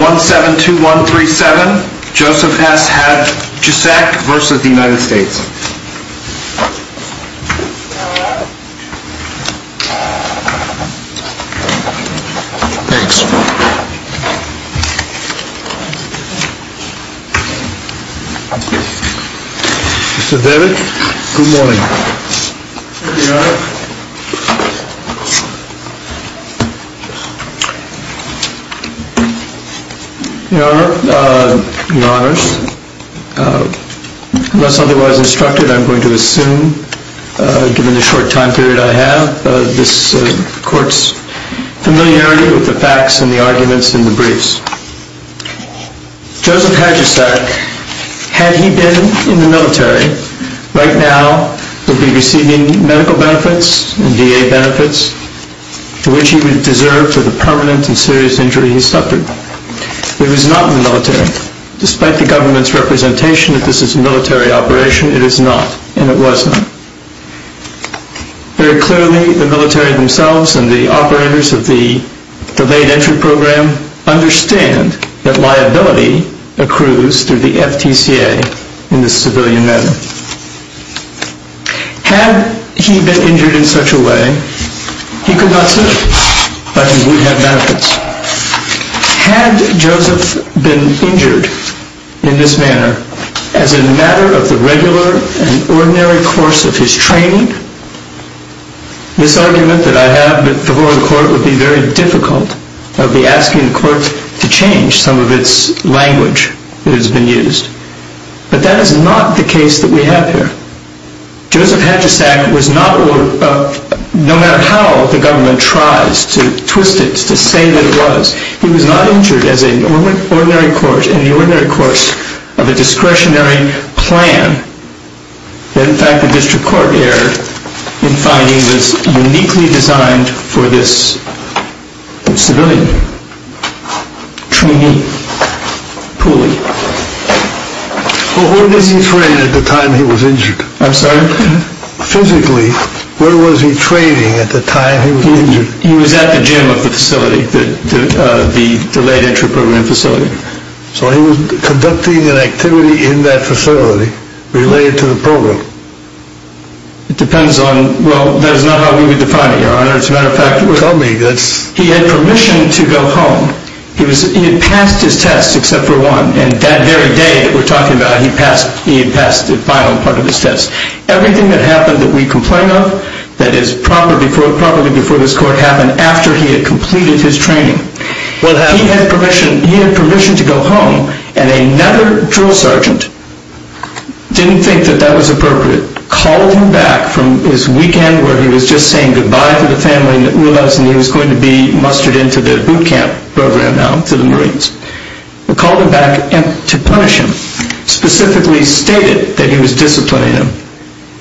172137, Joseph S. Hadjusak, versus the United States. Thanks. Mr. David, good morning. Good morning, Your Honor. Your Honor, unless otherwise instructed, I'm going to assume, given the short time period I have, this Court's familiarity with the facts and the arguments in the briefs. Joseph Hadjusak, had he been in the military, right now would be receiving medical benefits and D.A. benefits to which he would deserve for the permanent and serious injury he suffered. He was not in the military. Despite the government's representation that this is a military operation, it is not, and it was not. Very clearly, the military themselves and the operators of the delayed entry program understand that liability accrues through the F.T.C.A. in this civilian manner. Had he been injured in such a way, he could not serve, but he would have benefits. Had Joseph been injured in this manner as a matter of the regular and ordinary course of his training, this argument that I have before the Court would be very difficult. I would be asking the Court to change some of its language that has been used. But that is not the case that we have here. Joseph Hadjusak was not, no matter how the government tries to twist it to say that it was, he was not injured in the ordinary course of a discretionary plan that in fact the District Court erred in finding was uniquely designed for this civilian trainee. Who was he training at the time he was injured? I'm sorry? Physically, what was he training at the time he was injured? He was at the gym of the facility, the delayed entry program facility. So he was conducting an activity in that facility related to the program? It depends on, well, that is not how we would define it, Your Honor. As a matter of fact, tell me. He had permission to go home. He had passed his test, except for one. And that very day that we're talking about, he had passed the final part of his test. Everything that happened that we complain of, that is properly before this Court happened, after he had completed his training. He had permission to go home, and another drill sergeant didn't think that that was appropriate. He called him back from his weekend where he was just saying goodbye to the family and he was going to be mustered into the boot camp program now, to the Marines. He called him back to punish him, specifically stated that he was disciplining him.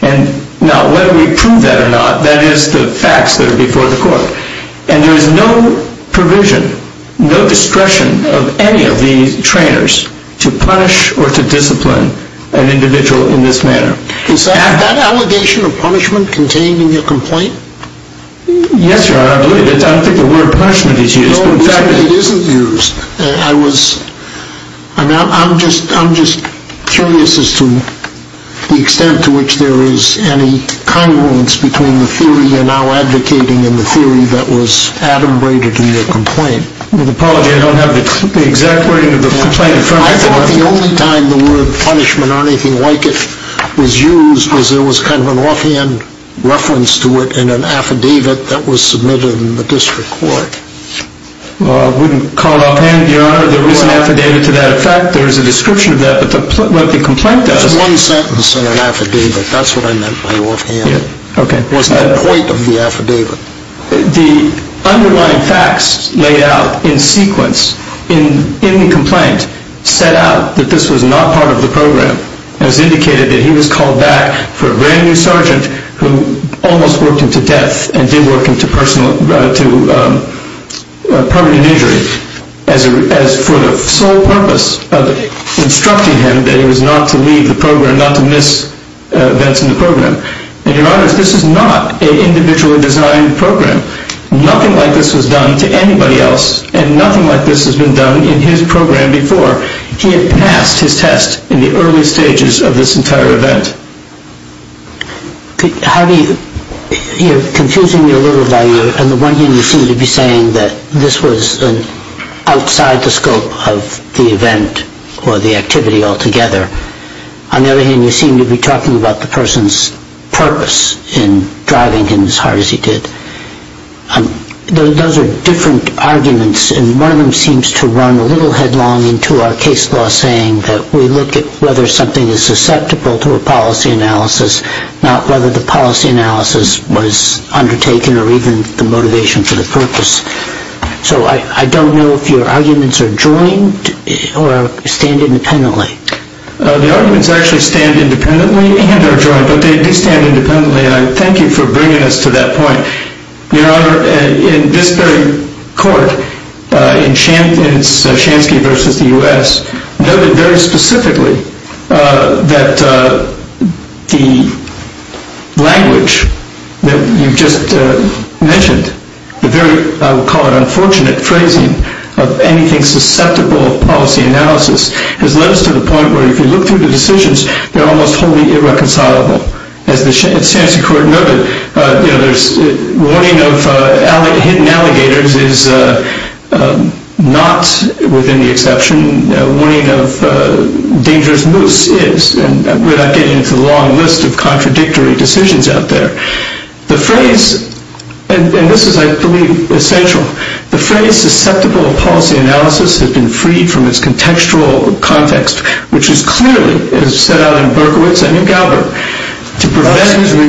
And now, whether we prove that or not, that is the facts that are before the Court. And there is no provision, no discretion of any of these trainers to punish or to discipline an individual in this manner. Is that allegation of punishment contained in your complaint? Yes, Your Honor, I believe it is. I don't think the word punishment is used. No, it isn't used. I'm just curious as to the extent to which there is any congruence between the theory you're now advocating and the theory that was adumbrated in your complaint. With apology, I don't have the exact wording of the complaint in front of me. I think the only time the word punishment or anything like it was used was there was kind of an offhand reference to it in an affidavit that was submitted in the District Court. I wouldn't call offhand, Your Honor. There was an affidavit to that effect. There is a description of that, but what the complaint does… There's one sentence in an affidavit. That's what I meant by offhand. Okay. What's the point of the affidavit? The underlying facts laid out in sequence in the complaint set out that this was not part of the program. It was indicated that he was called back for a brand new sergeant who almost worked him to death and did work him to permanent injury for the sole purpose of instructing him that he was not to leave the program, not to miss events in the program. And, Your Honor, this is not an individually designed program. Nothing like this was done to anybody else and nothing like this has been done in his program before. He had passed his test in the early stages of this entire event. Harvey, you're confusing me a little there. On the one hand, you seem to be saying that this was outside the scope of the event or the activity altogether. On the other hand, you seem to be talking about the person's purpose in driving him as hard as he did. Those are different arguments, and one of them seems to run a little headlong into our case law, saying that we look at whether something is susceptible to a policy analysis, not whether the policy analysis was undertaken or even the motivation for the purpose. So I don't know if your arguments are joined or stand independently. The arguments actually stand independently and are joined, but they do stand independently, and I thank you for bringing us to that point. Your Honor, in this very court, in Shansky v. the U.S., noted very specifically that the language that you just mentioned, the very, I would call it unfortunate, phrasing of anything susceptible of policy analysis, has led us to the point where if you look through the decisions, they're almost wholly irreconcilable. As the Shansky court noted, warning of hidden alligators is not within the exception. Warning of dangerous moose is, and we're not getting into the long list of contradictory decisions out there. The phrase, and this is, I believe, essential, the phrase susceptible of policy analysis has been freed from its contextual context, which is clearly set out in Berkowitz and in Galbraith.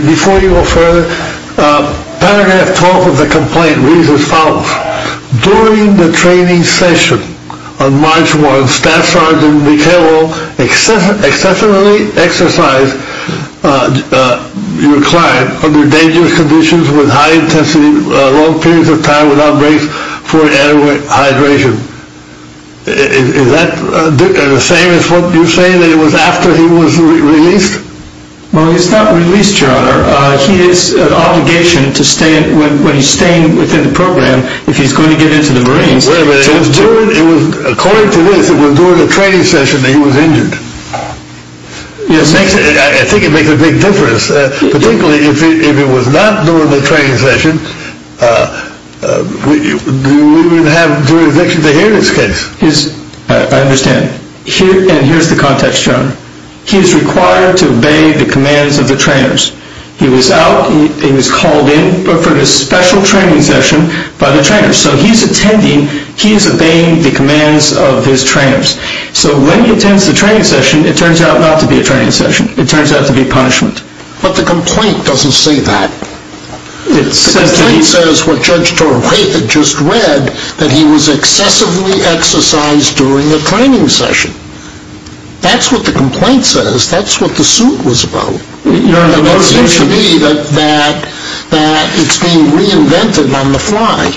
Before you go further, paragraph 12 of the complaint reads as follows. During the training session on March 1, Staff Sergeant McHale excessively exercised your client under dangerous conditions with high intensity, long periods of time without breaks for adequate hydration. Is that the same as what you're saying, that it was after he was released? Well, he's not released, Your Honor. He has an obligation to stay, when he's staying within the program, if he's going to get into the Marines. Wait a minute. According to this, it was during the training session that he was injured. I think it makes a big difference. Particularly if it was not during the training session, we would have jurisdiction to hear this case. I understand. And here's the context, Your Honor. He's required to obey the commands of the trainers. He was out, he was called in for this special training session by the trainers. So he's attending, he's obeying the commands of his trainers. So when he attends the training session, it turns out not to be a training session. It turns out to be punishment. But the complaint doesn't say that. The complaint says what Judge Torrey just read, that he was excessively exercised during the training session. That's what the complaint says. That's what the suit was about. It seems to me that it's being reinvented on the fly.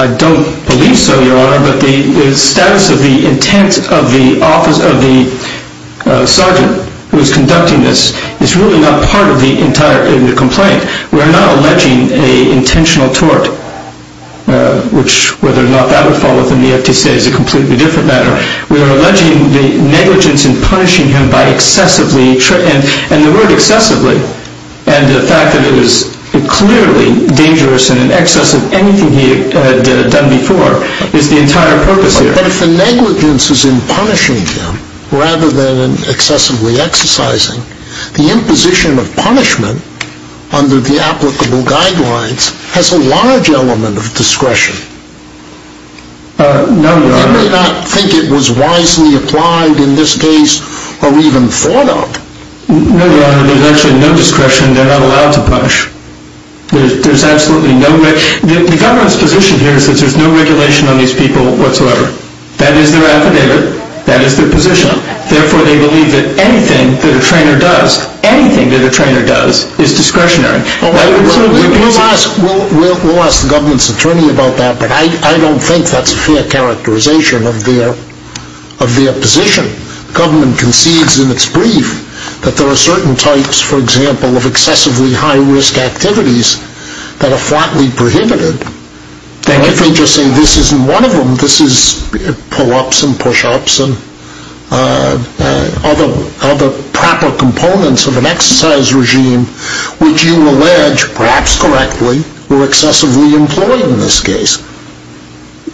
I don't believe so, Your Honor. But the status of the intent of the sergeant who is conducting this is really not part of the entire complaint. We are not alleging an intentional tort. Which, whether or not that would fall within the FTCA is a completely different matter. We are alleging the negligence in punishing him by excessively... And the word excessively, and the fact that it was clearly dangerous and in excess of anything he had done before, is not part of the entire purpose here. But if the negligence is in punishing him, rather than in excessively exercising, the imposition of punishment under the applicable guidelines has a large element of discretion. No, Your Honor. You may not think it was wisely applied in this case, or even thought of. No, Your Honor. There's actually no discretion. They're not allowed to punish. There's absolutely no... The government's position here is that there's no regulation on these people whatsoever. That is their affidavit. That is their position. Therefore, they believe that anything that a trainer does, anything that a trainer does, is discretionary. We'll ask the government's attorney about that, but I don't think that's a fair characterization of their position. If the government concedes in its brief that there are certain types, for example, of excessively high-risk activities that are flatly prohibited, then if they just say this isn't one of them, this is pull-ups and push-ups and other proper components of an exercise regime, which you allege, perhaps correctly, were excessively employed in this case...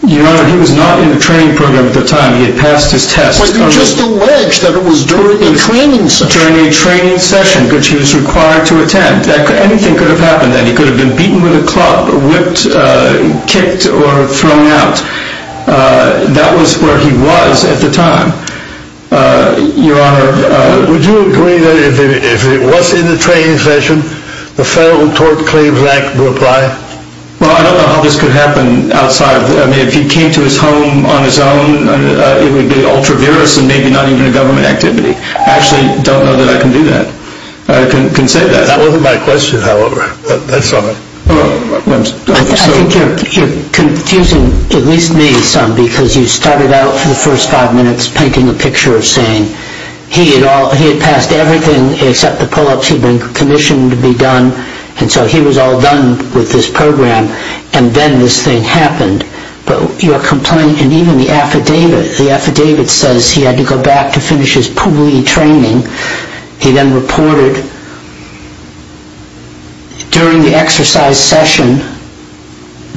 Your Honor, he was not in the training program at the time. He had passed his test. But you still allege that it was during a training session. During a training session, which he was required to attend. Anything could have happened then. He could have been beaten with a club, whipped, kicked, or thrown out. That was where he was at the time. Your Honor, would you agree that if he was in the training session, the Federal Tort Claims Act would apply? Well, I don't know how this could happen outside. I mean, if he came to his home on his own, it would be ultra-virus and maybe not even a government activity. I actually don't know that I can do that. I can say that. That wasn't my question, however. I think you're confusing at least me some, because you started out for the first five minutes painting a picture of saying he had passed everything except the pull-ups he'd been commissioned to be done, and so he was all done with this program, and then this thing happened. But your complaint, and even the affidavit, the affidavit says he had to go back to finish his pulley training. He then reported, during the exercise session,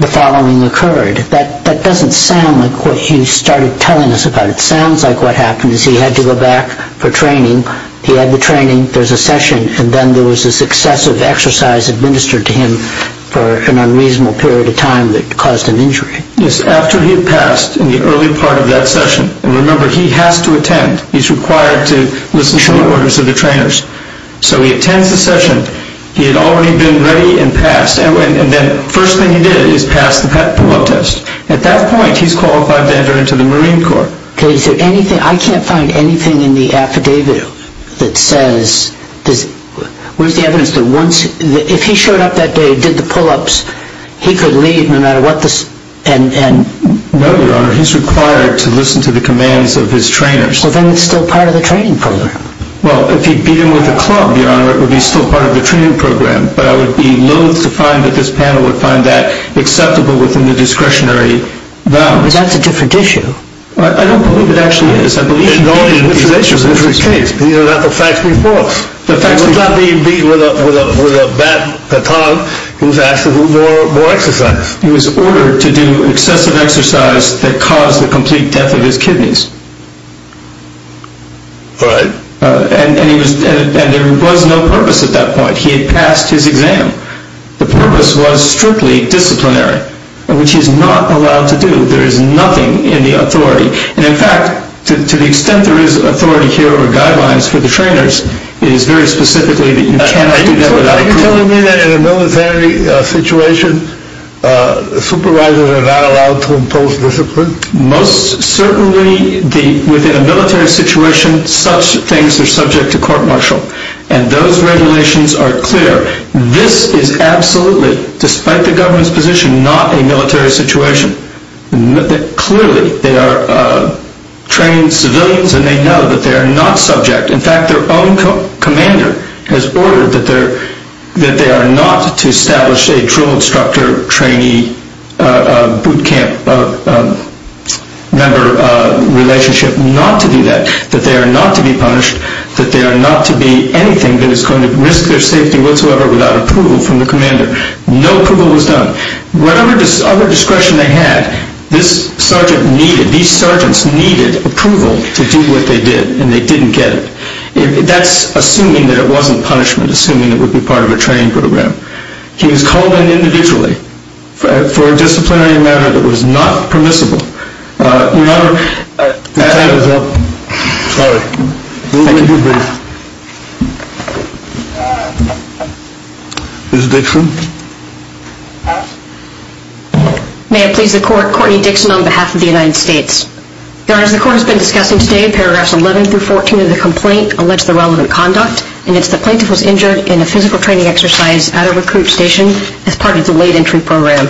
the following occurred. That doesn't sound like what you started telling us about. It sounds like what happened is he had to go back for training. He had the training. There's a session. And then there was this excessive exercise administered to him for an unreasonable period of time that caused an injury. Yes, after he had passed in the early part of that session. And remember, he has to attend. He's required to listen to the orders of the trainers. So he attends the session. He had already been ready and passed. And then the first thing he did is pass the pull-up test. At that point, he's qualified to enter into the Marine Corps. Is there anything, I can't find anything in the affidavit that says, where's the evidence that once, if he showed up that day, did the pull-ups, he could leave no matter what the... No, Your Honor, he's required to listen to the commands of his trainers. Well, then it's still part of the training program. Well, if he'd beaten with a club, Your Honor, it would be still part of the training program. But I would be loath to find that this panel would find that acceptable within the discretionary bounds. But that's a different issue. I don't believe it actually is. In all the accusations in this case, these are not the facts we've brought. He was not being beaten with a bat, baton. He was asked to do more exercise. He was ordered to do excessive exercise that caused the complete death of his kidneys. Right. And there was no purpose at that point. He had passed his exam. The purpose was strictly disciplinary, which he's not allowed to do. There is nothing in the authority. And in fact, to the extent there is authority here or guidelines for the trainers, it is very specifically that you cannot do that without... Are you telling me that in a military situation, supervisors are not allowed to impose discipline? Most certainly, within a military situation, such things are subject to court-martial. And those regulations are clear. This is absolutely, despite the government's position, not a military situation. Clearly, they are trained civilians and they know that they are not subject. In fact, their own commander has ordered that they are not to establish a drill instructor, trainee, boot camp member relationship. Not to do that. That they are not to be punished. That they are not to be anything that is going to risk their safety whatsoever without approval from the commander. No approval was done. Whatever other discretion they had, this sergeant needed, these sergeants needed approval to do what they did and they didn't get it. That's assuming that it wasn't punishment, assuming it would be part of a training program. He was called in individually for a disciplinary matter that was not permissible. Your Honor... Your time is up. Sorry. Ms. Dixon? May it please the court, Courtney Dixon on behalf of the United States. Your Honor, as the court has been discussing today, paragraphs 11 through 14 of the complaint allege the relevant conduct and it's the plaintiff was injured in a physical training exercise at a recruit station as part of the late entry program.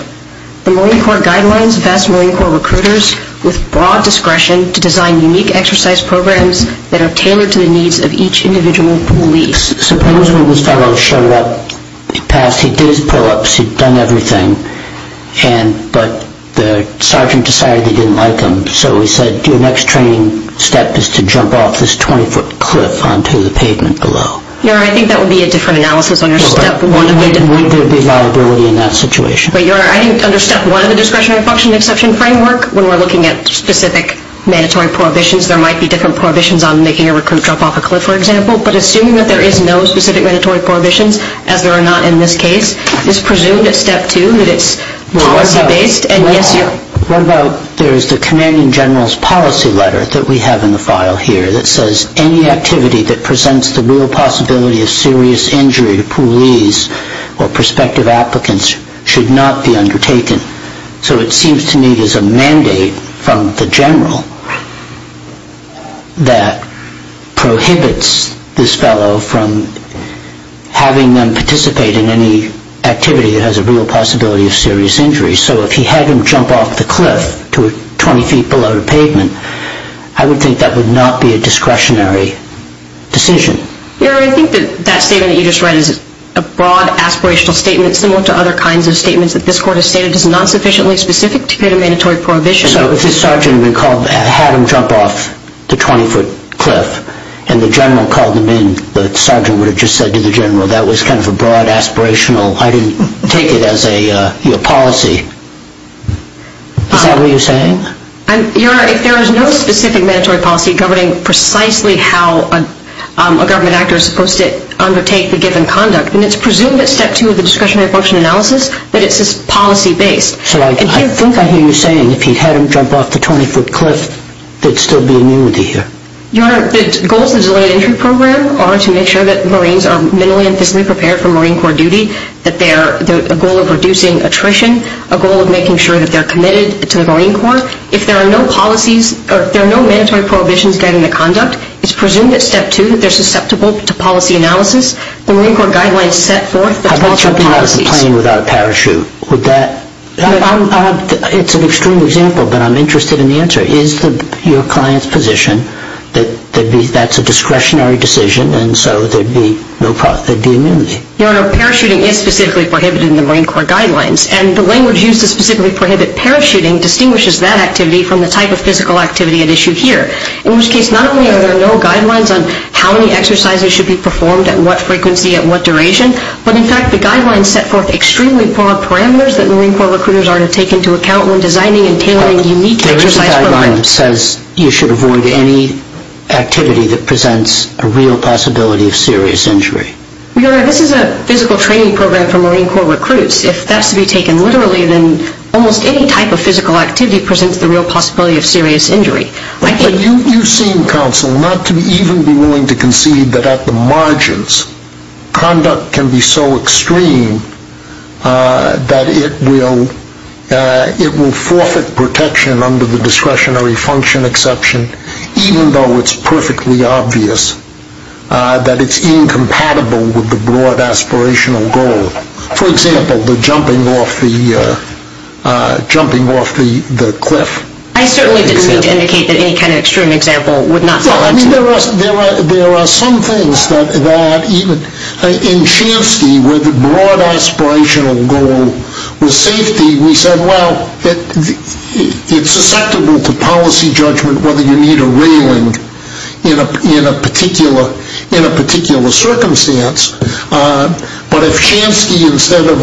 The Marine Corps guidelines vest Marine Corps recruiters with broad discretion to design unique exercise programs that are tailored to the needs of each individual police. Suppose one of his fellows showed up, he passed, he did his pull-ups, he'd done everything, but the sergeant decided he didn't like him. So he said, your next training step is to jump off this 20-foot cliff onto the pavement below. Your Honor, I think that would be a different analysis on your step one. Wouldn't there be liability in that situation? Your Honor, I think under step one of the discretionary function exception framework, when we're looking at specific mandatory prohibitions, there might be different prohibitions on making a recruit jump off a cliff, for example, but assuming that there is no specific mandatory prohibitions, as there are not in this case, it's presumed at step two that it's policy-based. What about there's the commanding general's policy letter that we have in the file here that says any activity that presents the real possibility of serious injury to police or prospective applicants should not be undertaken. So it seems to me there's a mandate from the general that prohibits this fellow from having them participate in any activity that has a real possibility of serious injury. So if he had him jump off the cliff to 20 feet below the pavement, I would think that would not be a discretionary decision. Your Honor, I think that statement that you just read is a broad aspirational statement similar to other kinds of statements that this court has stated is not sufficiently specific to create a mandatory prohibition. So if this sergeant had him jump off the 20-foot cliff and the general called him in, the sergeant would have just said to the general that was kind of a broad aspirational, I didn't take it as a policy. Is that what you're saying? Your Honor, if there is no specific mandatory policy governing precisely how a government actor is supposed to undertake the given conduct, then it's presumed at step two of the discretionary function analysis that it's policy-based. So I think I hear you saying if he had him jump off the 20-foot cliff, there'd still be immunity here. Your Honor, the goals of the delayed entry program are to make sure that Marines are mentally and physically prepared for Marine Corps duty, a goal of reducing attrition, a goal of making sure that they're committed to the Marine Corps. If there are no mandatory prohibitions guiding the conduct, it's presumed at step two that they're susceptible to policy analysis. The Marine Corps guidelines set forth the 12-step policies. What about a plane without a parachute? It's an extreme example, but I'm interested in the answer. Is your client's position that that's a discretionary decision, and so there'd be immunity? Your Honor, parachuting is specifically prohibited in the Marine Corps guidelines, and the language used to specifically prohibit parachuting distinguishes that activity from the type of physical activity at issue here, in which case not only are there no guidelines on how many exercises should be performed at what frequency at what duration, but in fact the guidelines set forth extremely broad parameters that Marine Corps recruiters are to take into account when designing and tailoring unique exercise programs. There is a guideline that says you should avoid any activity that presents a real possibility of serious injury. Your Honor, this is a physical training program for Marine Corps recruits. If that's to be taken literally, then almost any type of physical activity presents the real possibility of serious injury. But you've seen counsel not to even be willing to concede that at the margins, conduct can be so extreme that it will forfeit protection under the discretionary function exception, even though it's perfectly obvious that it's incompatible with the broad aspirational goal. For example, the jumping off the cliff. I certainly didn't mean to indicate that any kind of extreme example would not fall into that. There are some things that, in Shansky, where the broad aspirational goal was safety, we said, well, it's susceptible to policy judgment whether you need a railing in a particular circumstance. But if Shansky, instead of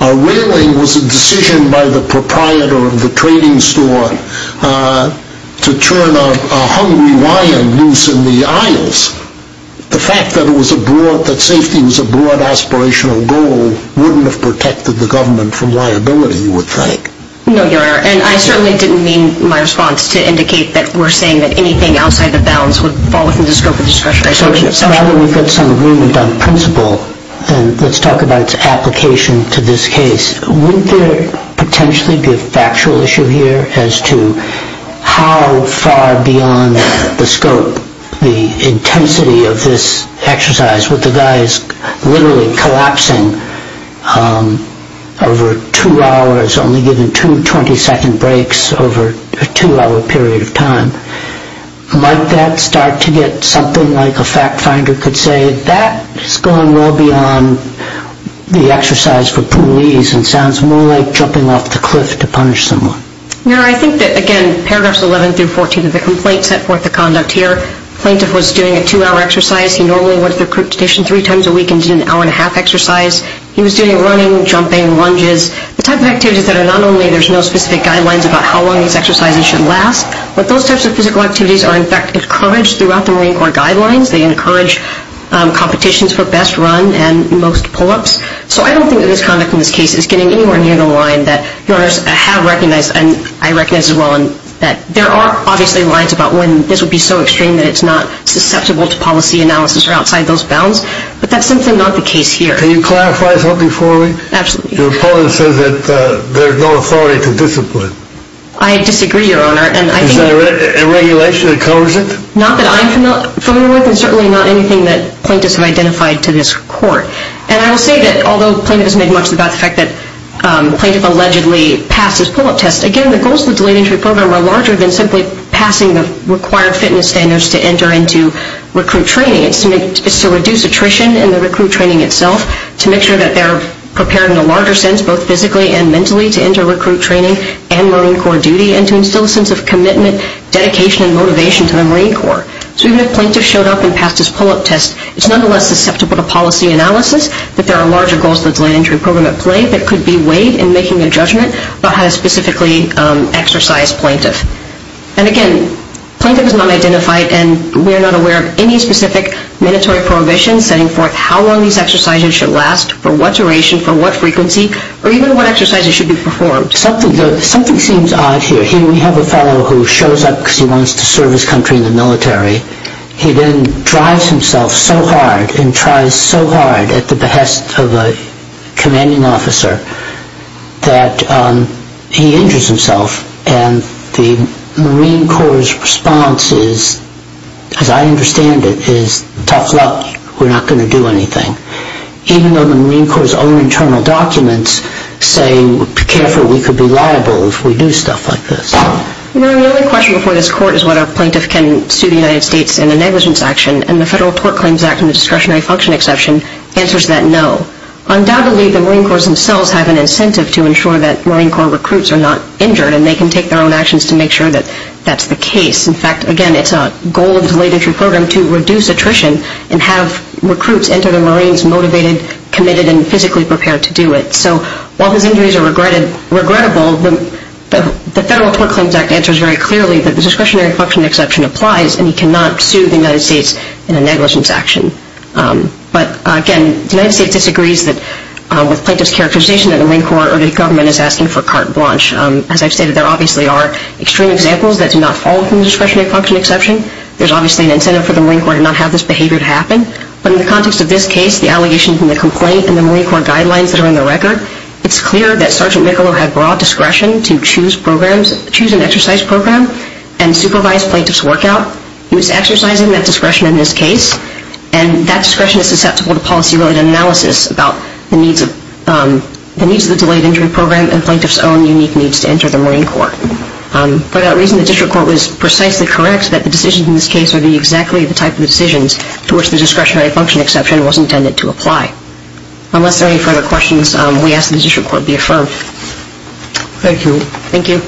a railing, was a decision by the proprietor of the trading store, to turn a hungry lion loose in the aisles, the fact that safety was a broad aspirational goal wouldn't have protected the government from liability, you would think. No, Your Honor, and I certainly didn't mean my response to indicate that we're saying that anything outside the bounds would fall within the scope of the discretionary function exception. So now that we've got some agreement on principle, and let's talk about its application to this case, wouldn't there potentially be a factual issue here as to how far beyond the scope, the intensity of this exercise, with the guys literally collapsing over two hours, only given two 20-second breaks over a two-hour period of time. Might that start to get something like a fact finder could say, that's going well beyond the exercise for police and sounds more like jumping off the cliff to punish someone. Your Honor, I think that, again, paragraphs 11 through 14 of the complaint set forth the conduct here. Plaintiff was doing a two-hour exercise. He normally went to the recruit station three times a week and did an hour and a half exercise. He was doing running, jumping, lunges, the type of activities that are not only, there's no specific guidelines about how long these exercises should last, but those types of physical activities are in fact encouraged throughout the Marine Corps guidelines. They encourage competitions for best run and most pull-ups. So I don't think that his conduct in this case is getting anywhere near the line that Your Honors have recognized and I recognize as well. There are obviously lines about when this would be so extreme that it's not susceptible to policy analysis or outside those bounds, but that's simply not the case here. Can you clarify something for me? Absolutely. Your opponent says that there's no authority to discipline. I disagree, Your Honor. Is there a regulation that covers it? Not that I'm familiar with and certainly not anything that plaintiffs have identified to this court. And I will say that, although plaintiff has made much of the fact that he allegedly passed his pull-up test, again, the goals of the Delayed Entry Program are larger than simply passing the required fitness standards to enter into recruit training. It's to reduce attrition in the recruit training itself, to make sure that they're prepared in a larger sense, both physically and mentally, to enter recruit training and Marine Corps duty and to instill a sense of commitment, dedication and motivation to the Marine Corps. So even if plaintiff showed up and passed his pull-up test, it's nonetheless susceptible to policy analysis that there are larger goals of the Delayed Entry Program at play that could be weighed in making a judgment about how to specifically exercise plaintiff. And again, plaintiff is not identified and we're not aware of any specific mandatory prohibition setting forth how long these exercises should last, for what duration, for what frequency or even what exercises should be performed. Something seems odd here. Here we have a fellow who shows up because he wants to serve his country in the military. He then drives himself so hard and tries so hard at the behest of a commanding officer that he injures himself. And the Marine Corps' response is, as I understand it, is tough luck. We're not going to do anything. Even though the Marine Corps' own internal documents say be careful, we could be liable if we do stuff like this. You know, the only question before this court is whether a plaintiff can sue the United States in a negligence action and the Federal Tort Claims Act and the Discretionary Function Exception answers that no. All of these laws have an incentive to ensure that Marine Corps recruits are not injured and they can take their own actions to make sure that that's the case. In fact, again, it's a goal of the delayed entry program to reduce attrition and have recruits enter the Marines motivated, committed, and physically prepared to do it. So while his injuries are regrettable, the Federal Tort Claims Act answers very clearly that the Discretionary Function Exception applies and that the Marine Corps or the government is asking for carte blanche. As I've stated, there obviously are extreme examples that do not fall from the Discretionary Function Exception. There's obviously an incentive for the Marine Corps to not have this behavior happen. But in the context of this case, the allegations in the complaint and the Marine Corps guidelines that are in the record, it's clear that Sergeant Michelou had broad discretion to choose an exercise program that meets the delayed entry program and plaintiff's own unique needs to enter the Marine Corps. For that reason, the District Court was precisely correct that the decisions in this case would be exactly the type of decisions to which the Discretionary Function Exception was intended to apply. we ask that the District Court be affirmed. Thank you.